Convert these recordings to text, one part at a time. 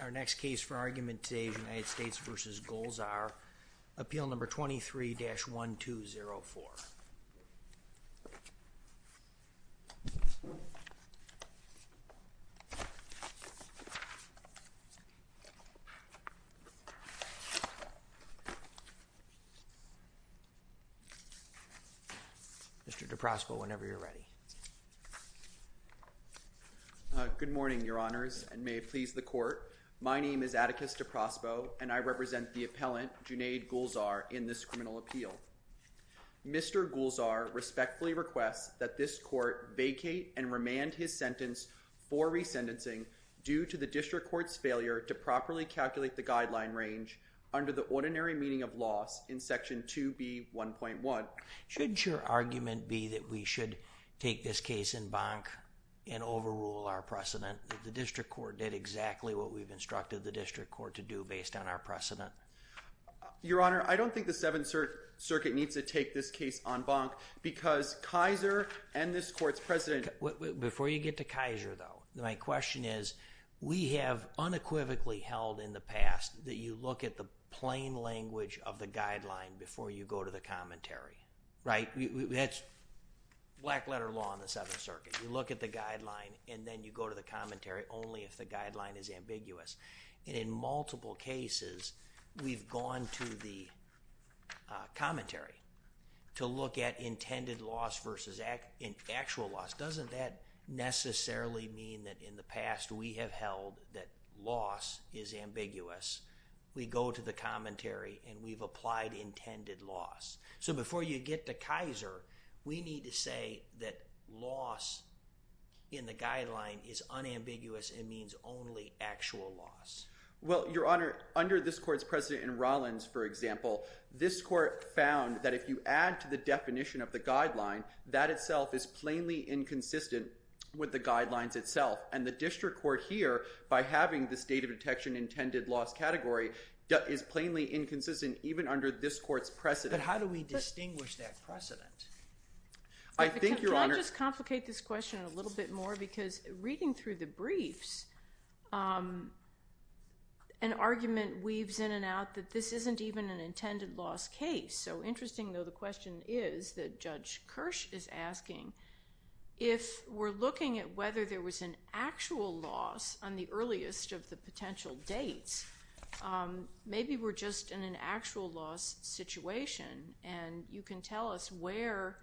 Our next case for argument today is United States v. Gulzar, appeal number 23-1204. Mr. DePraspa, whenever you're ready. Atticus DePraspa Good morning, Your Honors, and may it please the court. My name is Atticus DePraspa, and I represent the appellant, Junaid Gulzar, in this criminal appeal. Mr. Gulzar respectfully requests that this court vacate and remand his sentence for resentencing due to the district court's failure to properly calculate the guideline range under the ordinary meaning of loss in Section 2B.1.1. Shouldn't your argument be that we should take this case en banc and overrule our precedent? That the district court did exactly what we've instructed the district court to do based on our precedent? Atticus DePraspa Your Honor, I don't think the Seventh Circuit needs to take this case en banc because Kaiser and this court's president— Mr. Gulzar Before you get to Kaiser, though, my question is, we have unequivocally held in the past that you look at the plain language of the guideline before you go to the commentary. Right? That's black letter law in the Seventh Circuit. You look at the guideline and then you go to the commentary only if the guideline is ambiguous. And in multiple cases, we've gone to the commentary to look at intended loss versus actual loss. Doesn't that necessarily mean that in the past we have held that loss is ambiguous? We go to the commentary and we've said, before you get to Kaiser, we need to say that loss in the guideline is unambiguous and means only actual loss. Atticus DePraspa Well, Your Honor, under this court's president in Rollins, for example, this court found that if you add to the definition of the guideline, that itself is plainly inconsistent with the guidelines itself. And the district court here, by having the state of detection intended loss category, is plainly inconsistent even under this court's precedent. But how do we distinguish that precedent? I think, Your Honor— Can I just complicate this question a little bit more? Because reading through the briefs, an argument weaves in and out that this isn't even an intended loss case. So interesting, though, the question is that Judge Kirsch is asking, if we're looking at whether there was an actual loss on the earliest of the potential dates, maybe we're just in an actual loss situation. And you can tell us where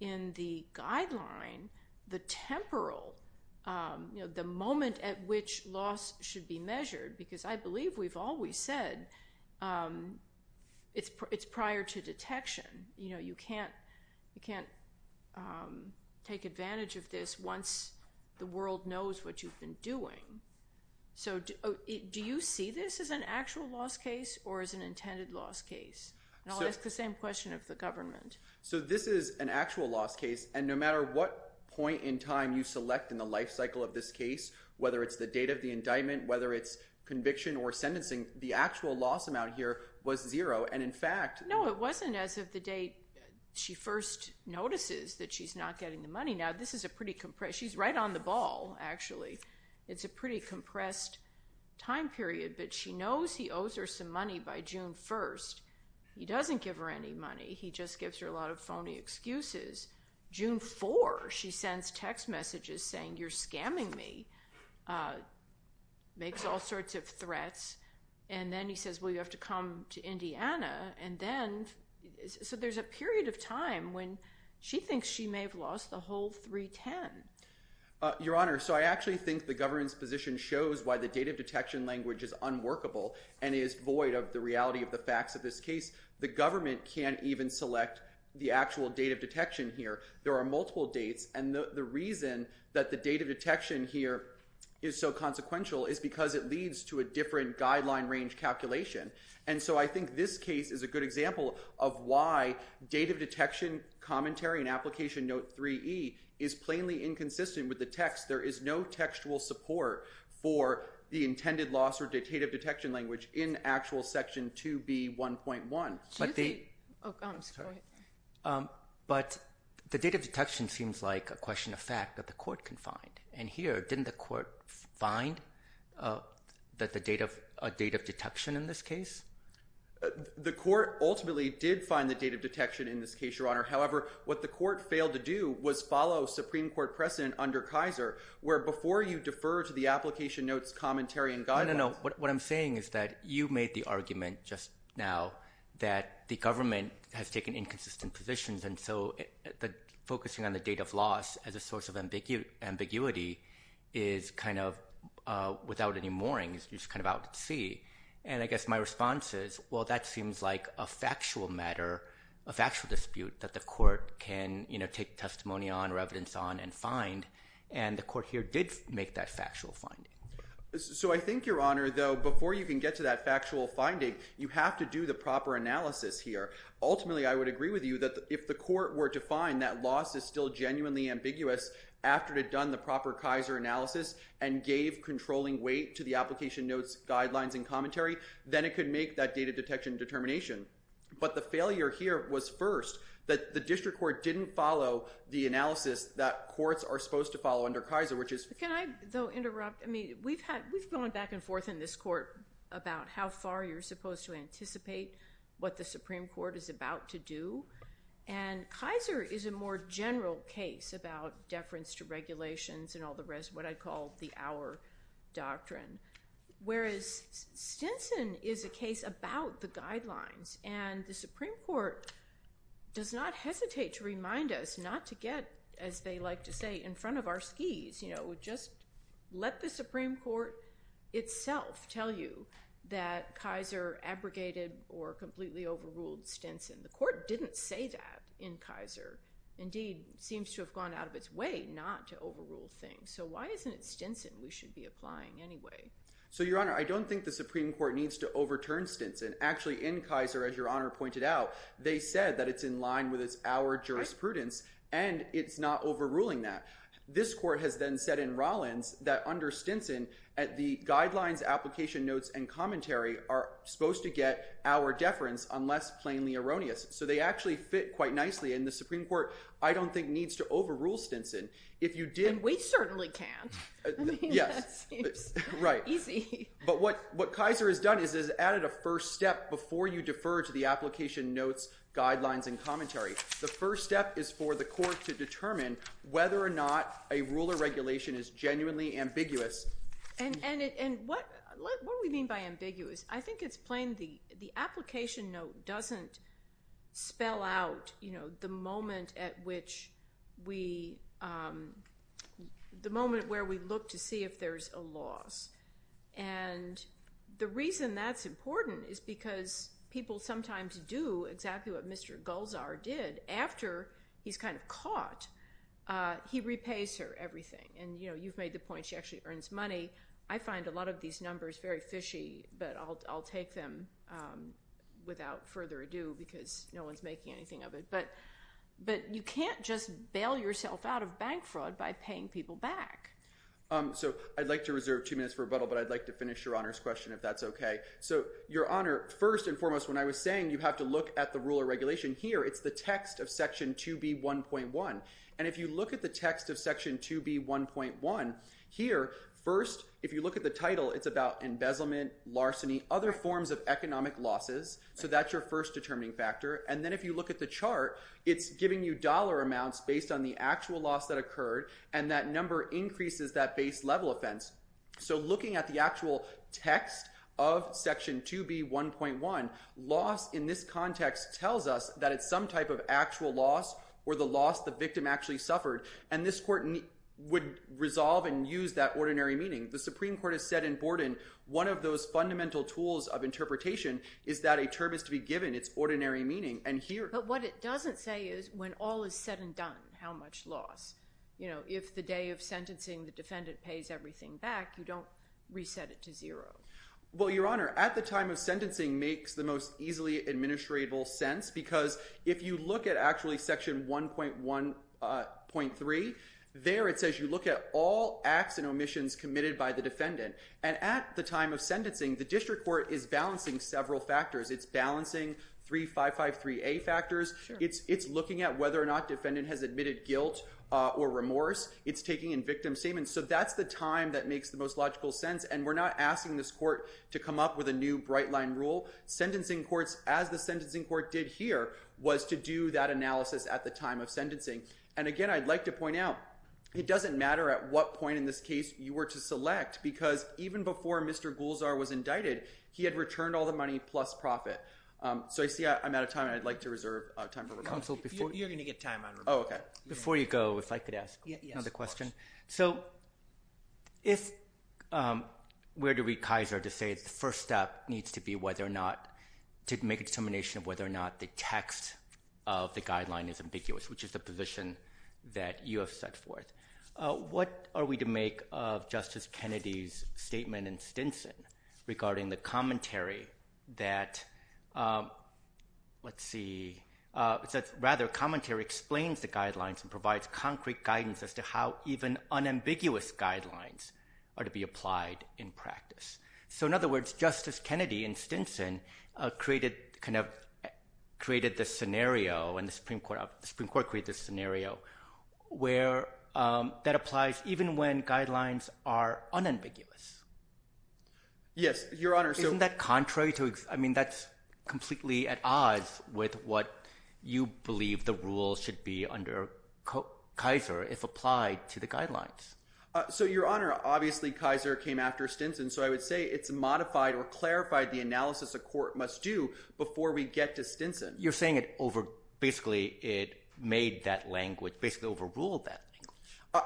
in the guideline the temporal—the moment at which loss should be measured, because I believe we've always said it's prior to detection. You can't take advantage of this once the world knows what you've been doing. So do you see this as an actual loss case or as an intended loss case? It's the same question of the government. So this is an actual loss case, and no matter what point in time you select in the life cycle of this case, whether it's the date of the indictment, whether it's conviction or sentencing, the actual loss amount here was zero. And in fact— No, it wasn't as of the date she first notices that she's not getting the money. Now, this is a pretty compressed—she's right on the ball, actually. It's a pretty compressed time period, but she knows he owes her some money by June 1st. He doesn't give her any money. He just gives her a lot of phony excuses. June 4, she sends text messages saying, you're scamming me, makes all sorts of threats. And then he says, well, you have to come to Indiana. And then—so there's a period of time when she thinks she may have lost the whole 310. Your Honor, so I actually think the government's position shows why the date of detection language is unworkable and is void of the reality of the facts of this case. The government can't even select the actual date of detection here. There are multiple dates, and the reason that the date of detection here is so consequential is because it leads to a different guideline range calculation. And so I think this case is a good example of why date of detection commentary and application note 3E is plainly inconsistent with the text. There is no textual support for the intended loss or date of detection language in actual section 2B1.1. But the date of detection seems like a question of fact that the court can find. And here, didn't the court find a date of detection in this case? The court ultimately did find the date of detection in this case, Your Honor. However, what the court failed to do was follow Supreme Court precedent under Kaiser, where before you defer to the application notes, commentary, and guidelines. No, no, no. What I'm saying is that you made the argument just now that the government has taken inconsistent positions. And so focusing on the date of loss as a source of ambiguity is kind of without any moorings. You're just kind of out at sea. And I guess my response is, that seems like a factual matter, a factual dispute that the court can take testimony on, or evidence on, and find. And the court here did make that factual finding. So I think, Your Honor, though, before you can get to that factual finding, you have to do the proper analysis here. Ultimately, I would agree with you that if the court were to find that loss is still genuinely ambiguous after it had done the proper Kaiser analysis and gave controlling weight to the application notes, guidelines, and commentary, then it could make that data detection determination. But the failure here was first that the district court didn't follow the analysis that courts are supposed to follow under Kaiser, which is— Can I, though, interrupt? I mean, we've gone back and forth in this court about how far you're supposed to anticipate what the Supreme Court is about to do. And Kaiser is a more general case about deference to regulations and all the rest, what I call the Our Doctrine, whereas Stinson is a case about the guidelines. And the Supreme Court does not hesitate to remind us not to get, as they like to say, in front of our skis. You know, just let the Supreme Court itself tell you that Kaiser abrogated or completely overruled Stinson. The court didn't say that in Kaiser. Indeed, it seems to have gone out of its way not to overrule things. So why isn't it Stinson we should be applying anyway? So, Your Honor, I don't think the Supreme Court needs to overturn Stinson. Actually, in Kaiser, as Your Honor pointed out, they said that it's in line with our jurisprudence and it's not overruling that. This court has then said in Rollins that under Stinson, the guidelines, application notes, and commentary are supposed to get our deference unless plainly erroneous. So they actually fit quite nicely. And the Supreme Court, I don't think, needs to overrule Stinson. If you did... And we certainly can. Yes. Right. Easy. But what Kaiser has done is added a first step before you defer to the application notes, guidelines, and commentary. The first step is for the court to determine whether or not a rule or regulation is genuinely ambiguous. And what do we mean by ambiguous? I think it's spell out the moment where we look to see if there's a loss. And the reason that's important is because people sometimes do exactly what Mr. Gulzar did after he's kind of caught. He repays her everything. And you've made the point she actually earns money. I find a lot of these no one's making anything of it. But you can't just bail yourself out of bank fraud by paying people back. So I'd like to reserve two minutes for rebuttal, but I'd like to finish Your Honor's question if that's okay. So Your Honor, first and foremost, when I was saying you have to look at the rule or regulation here, it's the text of section 2B1.1. And if you look at the text of section 2B1.1 here, first, if you look at the title, it's about embezzlement, larceny, other determining factors. And then if you look at the chart, it's giving you dollar amounts based on the actual loss that occurred. And that number increases that base level offense. So looking at the actual text of section 2B1.1, loss in this context tells us that it's some type of actual loss or the loss the victim actually suffered. And this court would resolve and use that ordinary meaning. The Supreme Court has said in Borden, one of those fundamental tools of interpretation is that a term is to be given its ordinary meaning. But what it doesn't say is when all is said and done, how much loss. If the day of sentencing the defendant pays everything back, you don't reset it to zero. Well, Your Honor, at the time of sentencing makes the most easily administrable sense because if you look at actually section 1.1.3, there it says you look at all acts and omissions committed by the defendant. And at the time of sentencing, the district court is balancing several factors. It's balancing 3553A factors. It's looking at whether or not defendant has admitted guilt or remorse. It's taking in victim statements. So that's the time that makes the most logical sense. And we're not asking this court to come up with a new bright line rule. Sentencing courts, as the sentencing court did here, was to do that analysis at the time of sentencing. And again, I'd like to point out, it doesn't matter at what point in this case you were to select because even before Mr. Gulzar was indicted, he had returned all the money plus profit. So I see I'm out of time. I'd like to reserve time for rebuttal. You're going to get time on rebuttal. Before you go, if I could ask another question. So if we're to read Kaiser to say the first step needs to be whether or not to make a determination of whether or not the text of the guideline is ambiguous, which is the position that you have set forth, what are we to make of Justice Kennedy's statement in Stinson regarding the commentary that, let's see, rather commentary explains the guidelines and provides concrete guidance as to how even unambiguous guidelines are to be applied in practice. So in other words, Justice Kennedy in Stinson created this scenario and the Supreme Court created this scenario where that applies even when guidelines are unambiguous. Yes, Your Honor. Isn't that contrary to, I mean, that's completely at odds with what you believe the rule should be under Kaiser if applied to the guidelines. So Your Honor, obviously Kaiser came after Stinson. So I would say it's modified or clarified the analysis a court must do before we get to Stinson. You're saying basically it made that language, basically overruled that.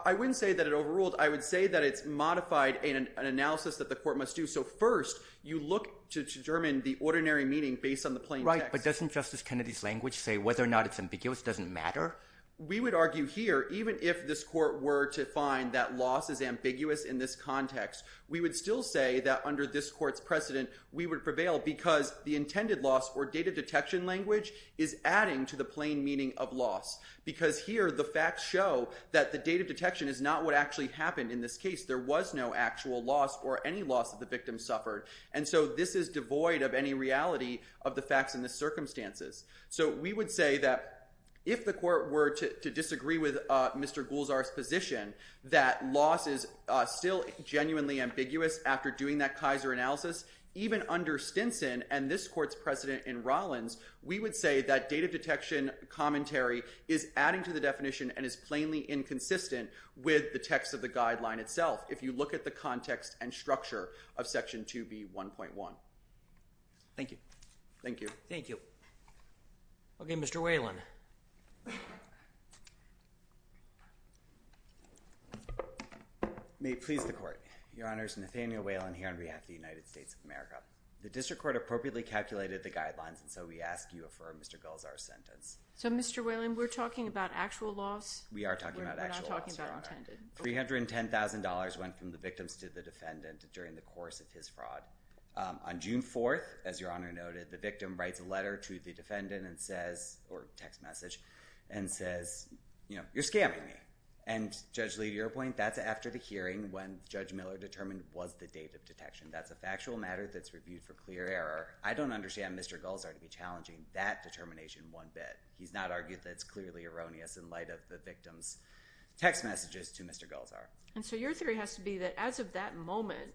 I wouldn't say that it overruled. I would say that it's modified in an analysis that the court must do. So first, you look to determine the ordinary meaning based on the plain text. Right, but doesn't Justice Kennedy's language say whether or not it's ambiguous doesn't matter? We would argue here, even if this court were to find that loss is ambiguous in this context, we would still say that under this court's precedent, we would prevail because the is adding to the plain meaning of loss because here the facts show that the date of detection is not what actually happened in this case. There was no actual loss or any loss of the victim suffered. And so this is devoid of any reality of the facts and the circumstances. So we would say that if the court were to disagree with Mr. Gulzar's position, that loss is still genuinely ambiguous after doing that Kaiser analysis, even under Stinson and this court's precedent in Rollins, we would say that date of detection commentary is adding to the definition and is plainly inconsistent with the text of the guideline itself. If you look at the context and structure of section 2B1.1. Thank you. Thank you. Thank you. Okay, Mr. Whelan. May it please the court. Your honors, Nathaniel Whelan here on behalf of the United States of America. The district court appropriately calculated the guidelines. And so we ask you affirm Mr. Gulzar's sentence. So Mr. Whelan, we're talking about actual loss. We are talking about actual loss, your honor. $310,000 went from the victims to the defendant during the course of his fraud. On June 4th, as your honor noted, the victim writes a letter to the defendant and says, or text message, and says, you know, you're scamming me. And Judge Lee, to your point, that's after the hearing when Judge Miller determined was the date of detection. That's a factual matter that's reviewed for clear error. I don't understand Mr. Gulzar to be challenging that determination one bit. He's not argued that it's clearly erroneous in light of the victim's text messages to Mr. Gulzar. And so your theory has to be that as of that moment,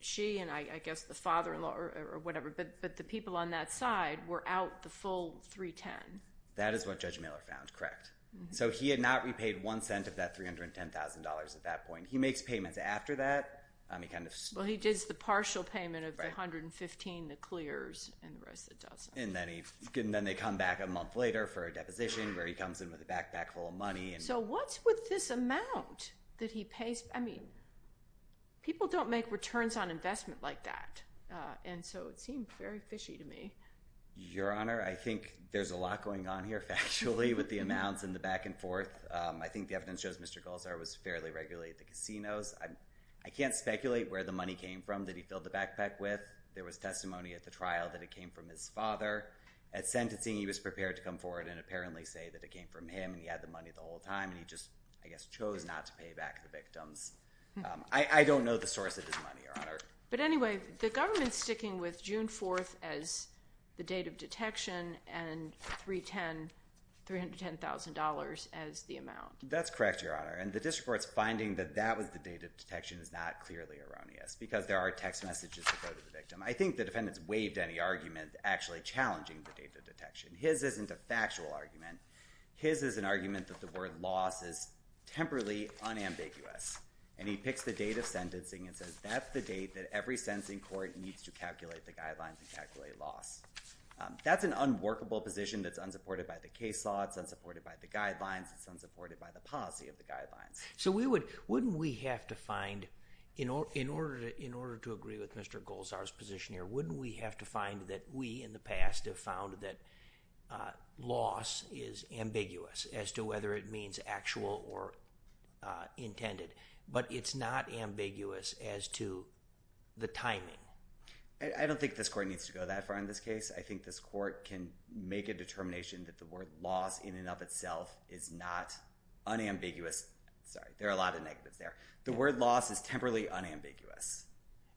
she and I guess the father-in-law or whatever, but the people on that side were out the full 310. That is what Judge Miller found, correct. So he had not repaid one cent of that $310,000 at that point. He makes payments after that. Well, he does the partial payment of the 115, the clears, and the rest of the dozen. And then they come back a month later for a deposition where he comes in with a backpack full of money. So what's with this amount that he pays? I mean, people don't make returns on investment like that. And so it seemed very fishy to me. Your honor, I think there's a lot going on here factually with the amounts and the back and forth. I think the evidence shows Mr. Gulzar was fairly regular at the casinos. I can't speculate where the money came from that he filled the backpack with. There was testimony at the trial that it came from his father. At sentencing, he was prepared to come forward and apparently say that it came from him and he had the money the whole time. And he just, I guess, chose not to pay back the victims. I don't know the source of this money, your honor. But anyway, the government sticking with June 4th as the date of detection and $310,000 as the amount. That's correct, your honor. And the district court's finding that that was the date of detection is not clearly erroneous because there are text messages to go to the victim. I think the defendants waived any argument actually challenging the date of detection. His isn't a factual argument. His is an argument that the word loss is temporally unambiguous. And he picks the date of sentencing and says that's the date that every sentencing court needs to calculate the guidelines and calculate loss. That's an unworkable position that's unsupported by the case law. It's unsupported by the guidelines. It's unsupported by the policy of the guidelines. So we would, wouldn't we have to find, in order to agree with Mr. Gulzar's position here, wouldn't we have to find that we in the past have found that loss is ambiguous as to whether it means actual or intended. But it's not ambiguous as to the timing. I don't think this court needs to go that far in this case. I think this court can make a determination that the word loss in and of itself is not unambiguous. Sorry, there are a lot of negatives there. The word loss is temporally unambiguous.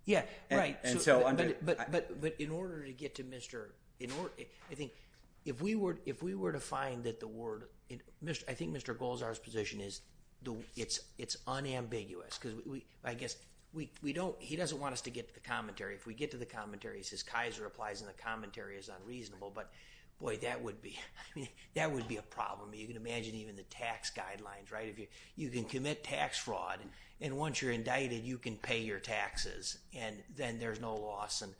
Yeah, right. But in order to get to Mr., I think if we were to find that the word, I think Mr. Gulzar's position is it's unambiguous. Because we, I guess, we don't, he doesn't want us to get to the commentary. If we get to the commentary, he says Kaiser applies and the commentary is unreasonable. But boy, that would be, I mean, that would be a problem. You can imagine even the tax guidelines, right? If you, you can commit tax fraud and once you're indicted, you can pay your taxes and then there's no loss. And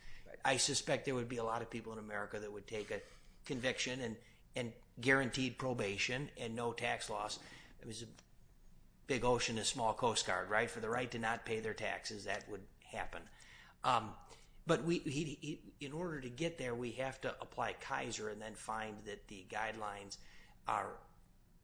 I suspect there would be a lot of people in and no tax loss. It was a big ocean, a small coast guard, right? For the right to not pay their taxes, that would happen. But we, in order to get there, we have to apply Kaiser and then find that the guidelines are,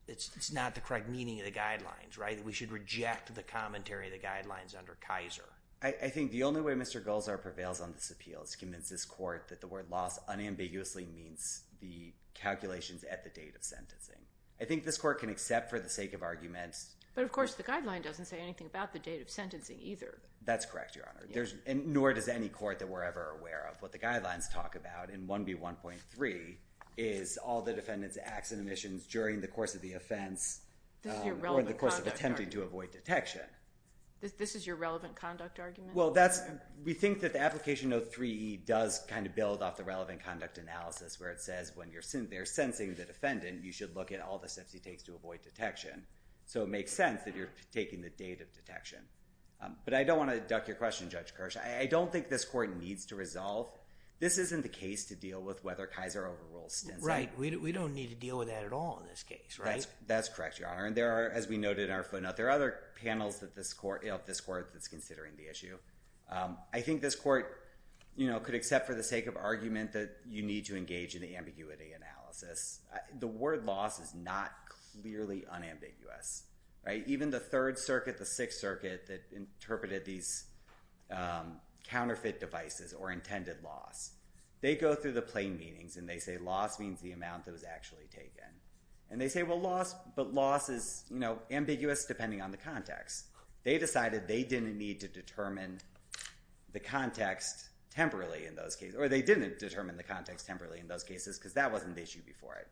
it's not the correct meaning of the guidelines, right? That we should reject the commentary of the guidelines under Kaiser. I think the only way Mr. Gulzar prevails on this appeal is to convince this court that the word loss unambiguously means the calculations at the date of sentencing. I think this court can accept for the sake of arguments. But of course, the guideline doesn't say anything about the date of sentencing either. That's correct, Your Honor. There's, nor does any court that we're ever aware of. What the guidelines talk about in 1B1.3 is all the defendant's acts and omissions during the course of the offense or in the course of attempting to avoid detection. This is your relevant conduct argument? Well, that's, we think that the application of 3E does kind of build off the relevant conduct analysis where it says when they're sentencing the defendant, you should look at all the steps he takes to avoid detection. So it makes sense that you're taking the date of detection. But I don't want to duck your question, Judge Kirsch. I don't think this court needs to resolve. This isn't the case to deal with whether Kaiser overrules Stinson. Right. We don't need to deal with that at all in this case, right? That's correct, Your Honor. And there are, as we noted in our footnote, there are other panels that this court, of this court, that's considering the issue. I think this court, you know, could accept for the sake of argument that you need to engage in the ambiguity analysis. The word loss is not clearly unambiguous, right? Even the Third Circuit, the Sixth Circuit that interpreted these counterfeit devices or intended loss, they go through the plain meanings and they say loss means the amount that was actually taken. And they say, well, loss, but loss is, you know, ambiguous depending on the context. They decided they didn't need to determine the context temporally in those cases, or they didn't determine the context temporally in those cases because that wasn't the issue before it.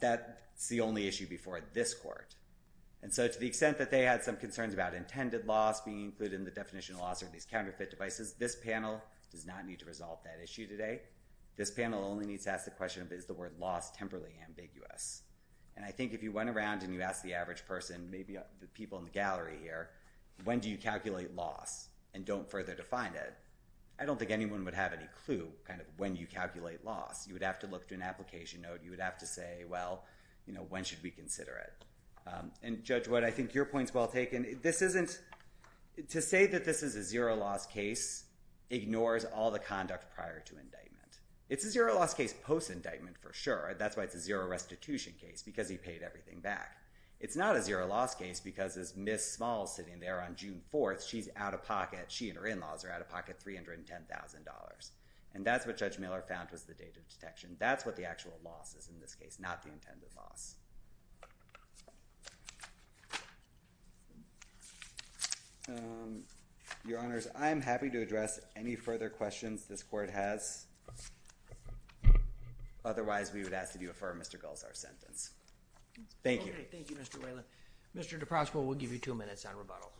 That's the only issue before this court. And so to the extent that they had some concerns about intended loss being included in the definition of loss or these counterfeit devices, this panel does not need to resolve that issue today. This panel only needs to ask the question of, is the word loss temporally ambiguous? And I think if you went around and you asked the average person, maybe the people in the gallery here, when do you calculate loss and don't further define it, I don't think anyone would have any clue kind of when you calculate loss. You would have to look to an application note. You would have to say, well, you know, when should we consider it? And Judge Wood, I think your point's well taken. This isn't, to say that this is a zero loss case ignores all the conduct prior to indictment. It's a zero loss case post-indictment for sure. That's why it's a zero restitution case, because he paid everything back. It's not a zero loss case because this Miss Small sitting there on June 4th, she's out of pocket. She and her in-laws are out of pocket $310,000. And that's what Judge Miller found was the data detection. That's what the actual loss is in this case, not the intended loss. Your Honors, I'm happy to address any further questions this court has. Otherwise, we would ask that you affirm Mr. Gull's sentence. Thank you. Thank you, Mr. Whalen. Mr. DePrasco, we'll give you two minutes on rebuttal.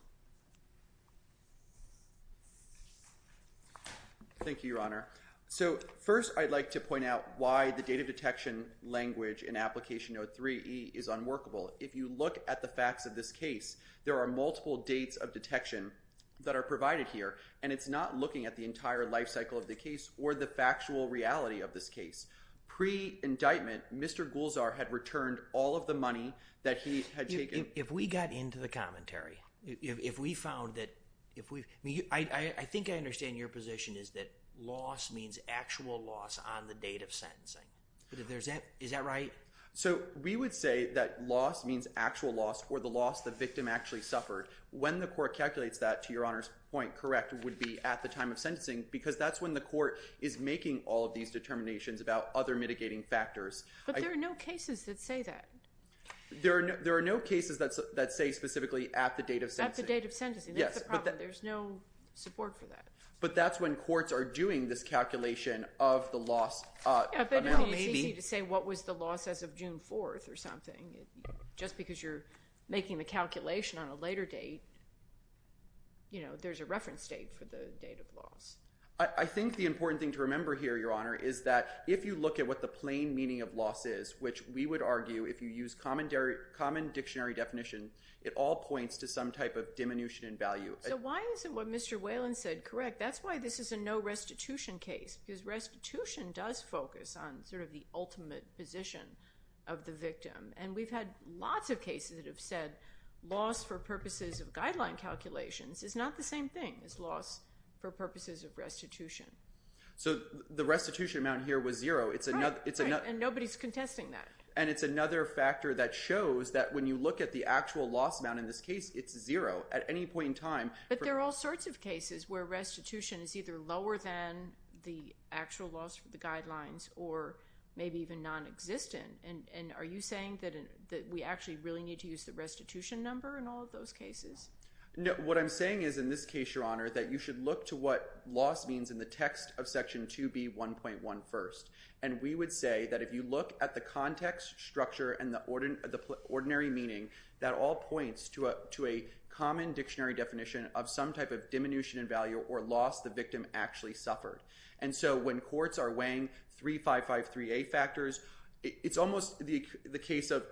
Thank you, Your Honor. So first, I'd like to point out why the data detection language in application note 3E is unworkable. If you look at the facts of this case, there are multiple dates of detection that are provided here, and it's not looking at the entire life cycle of the case or the factual reality of this case. Pre-indictment, Mr. Gulzar had returned all of the money that he had taken. If we got into the commentary, if we found that... I think I understand your position is that loss means actual loss on the date of sentencing. Is that right? So we would say that loss means actual loss or the loss the victim actually suffered. When the court calculates that, to Your Honor's point, correct, would be at the time of sentencing because that's when the court is making all of these determinations about other mitigating factors. But there are no cases that say that. There are no cases that say specifically at the date of sentencing. At the date of sentencing. That's the problem. There's no support for that. But that's when courts are doing this calculation of the loss amount. Maybe it's easy to say what was the loss as of June 4th or something. Just because you're making the calculation on a later date, there's a reference date for the date of loss. I think the important thing to remember here, Your Honor, is that if you look at what the plain meaning of loss is, which we would argue, if you use common dictionary definition, it all points to some type of diminution in value. So why isn't what Mr. Whalen said correct? That's why this is a no restitution case. Because restitution does focus on sort of the ultimate position of the victim. And we've had lots of cases that have said loss for purposes of guideline calculations is not the same thing as loss for purposes of restitution. So the restitution amount here was zero. And nobody's contesting that. And it's another factor that shows that when you look at the actual loss amount in this case, it's zero at any point in time. But there are all sorts of cases where restitution is either lower than the actual loss for the guidelines or maybe even non-existent. And are you saying that we actually really need to use the restitution number in all of those cases? What I'm saying is, in this case, Your Honor, that you should look to what loss means in the text of Section 2B1.1 first. And we would say that if you look at the context, structure, and the ordinary meaning, that all points to a common dictionary definition of some type of diminution in value or loss the victim actually suffered. And so when courts are weighing 3553A factors, it's almost the case of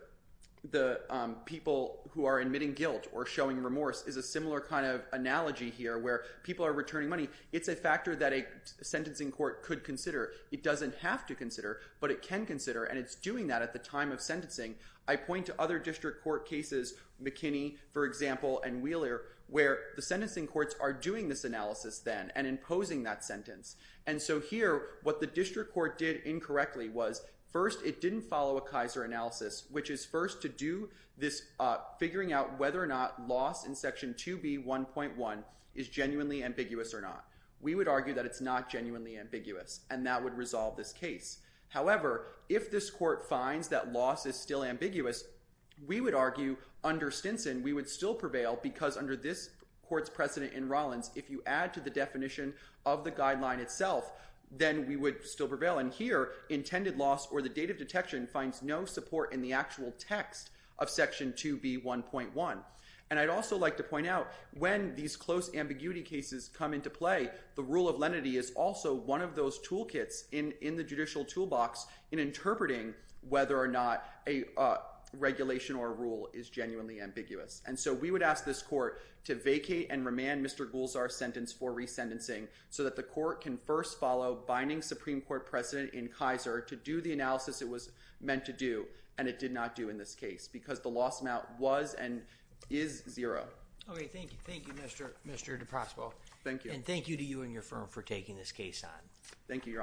the people who are admitting guilt or showing remorse is a similar kind of analogy here where people are returning money. It's a factor that a sentencing court could consider. It doesn't have to consider, but it can consider. And it's doing that at the time of sentencing. I point to other district court cases, McKinney, for example, and Wheeler, where the sentencing courts are doing this analysis then and imposing that sentence. And so here, what the district court did incorrectly was, first, it didn't follow a Kaiser analysis, which is first to do this figuring out whether or not loss in Section 2B1.1 is genuinely ambiguous or not. We would argue that it's not genuinely ambiguous. And that would resolve this case. However, if this court finds that loss is still ambiguous, we would argue under Stinson, we would still prevail because under this court's precedent in Rollins, if you add to the definition of the guideline itself, then we would still prevail. And here, intended loss or the date of detection finds no support in the actual text of Section 2B1.1. And I'd also like to point out when these close ambiguity cases come into play, the rule of lenity is also one of those toolkits in the judicial toolbox in interpreting whether or not a regulation or rule is genuinely ambiguous. And so we would ask this court to vacate and remand Mr. Gulzar's sentence for resentencing so that the court can first follow binding Supreme Court precedent in Kaiser to do the analysis it was meant to do and it did not do in this case because the loss amount was and is zero. Okay, thank you. Thank you, Mr. DePrasbo. Thank you. And thank you to you and your firm for taking this case on. Thank you, Your Honors.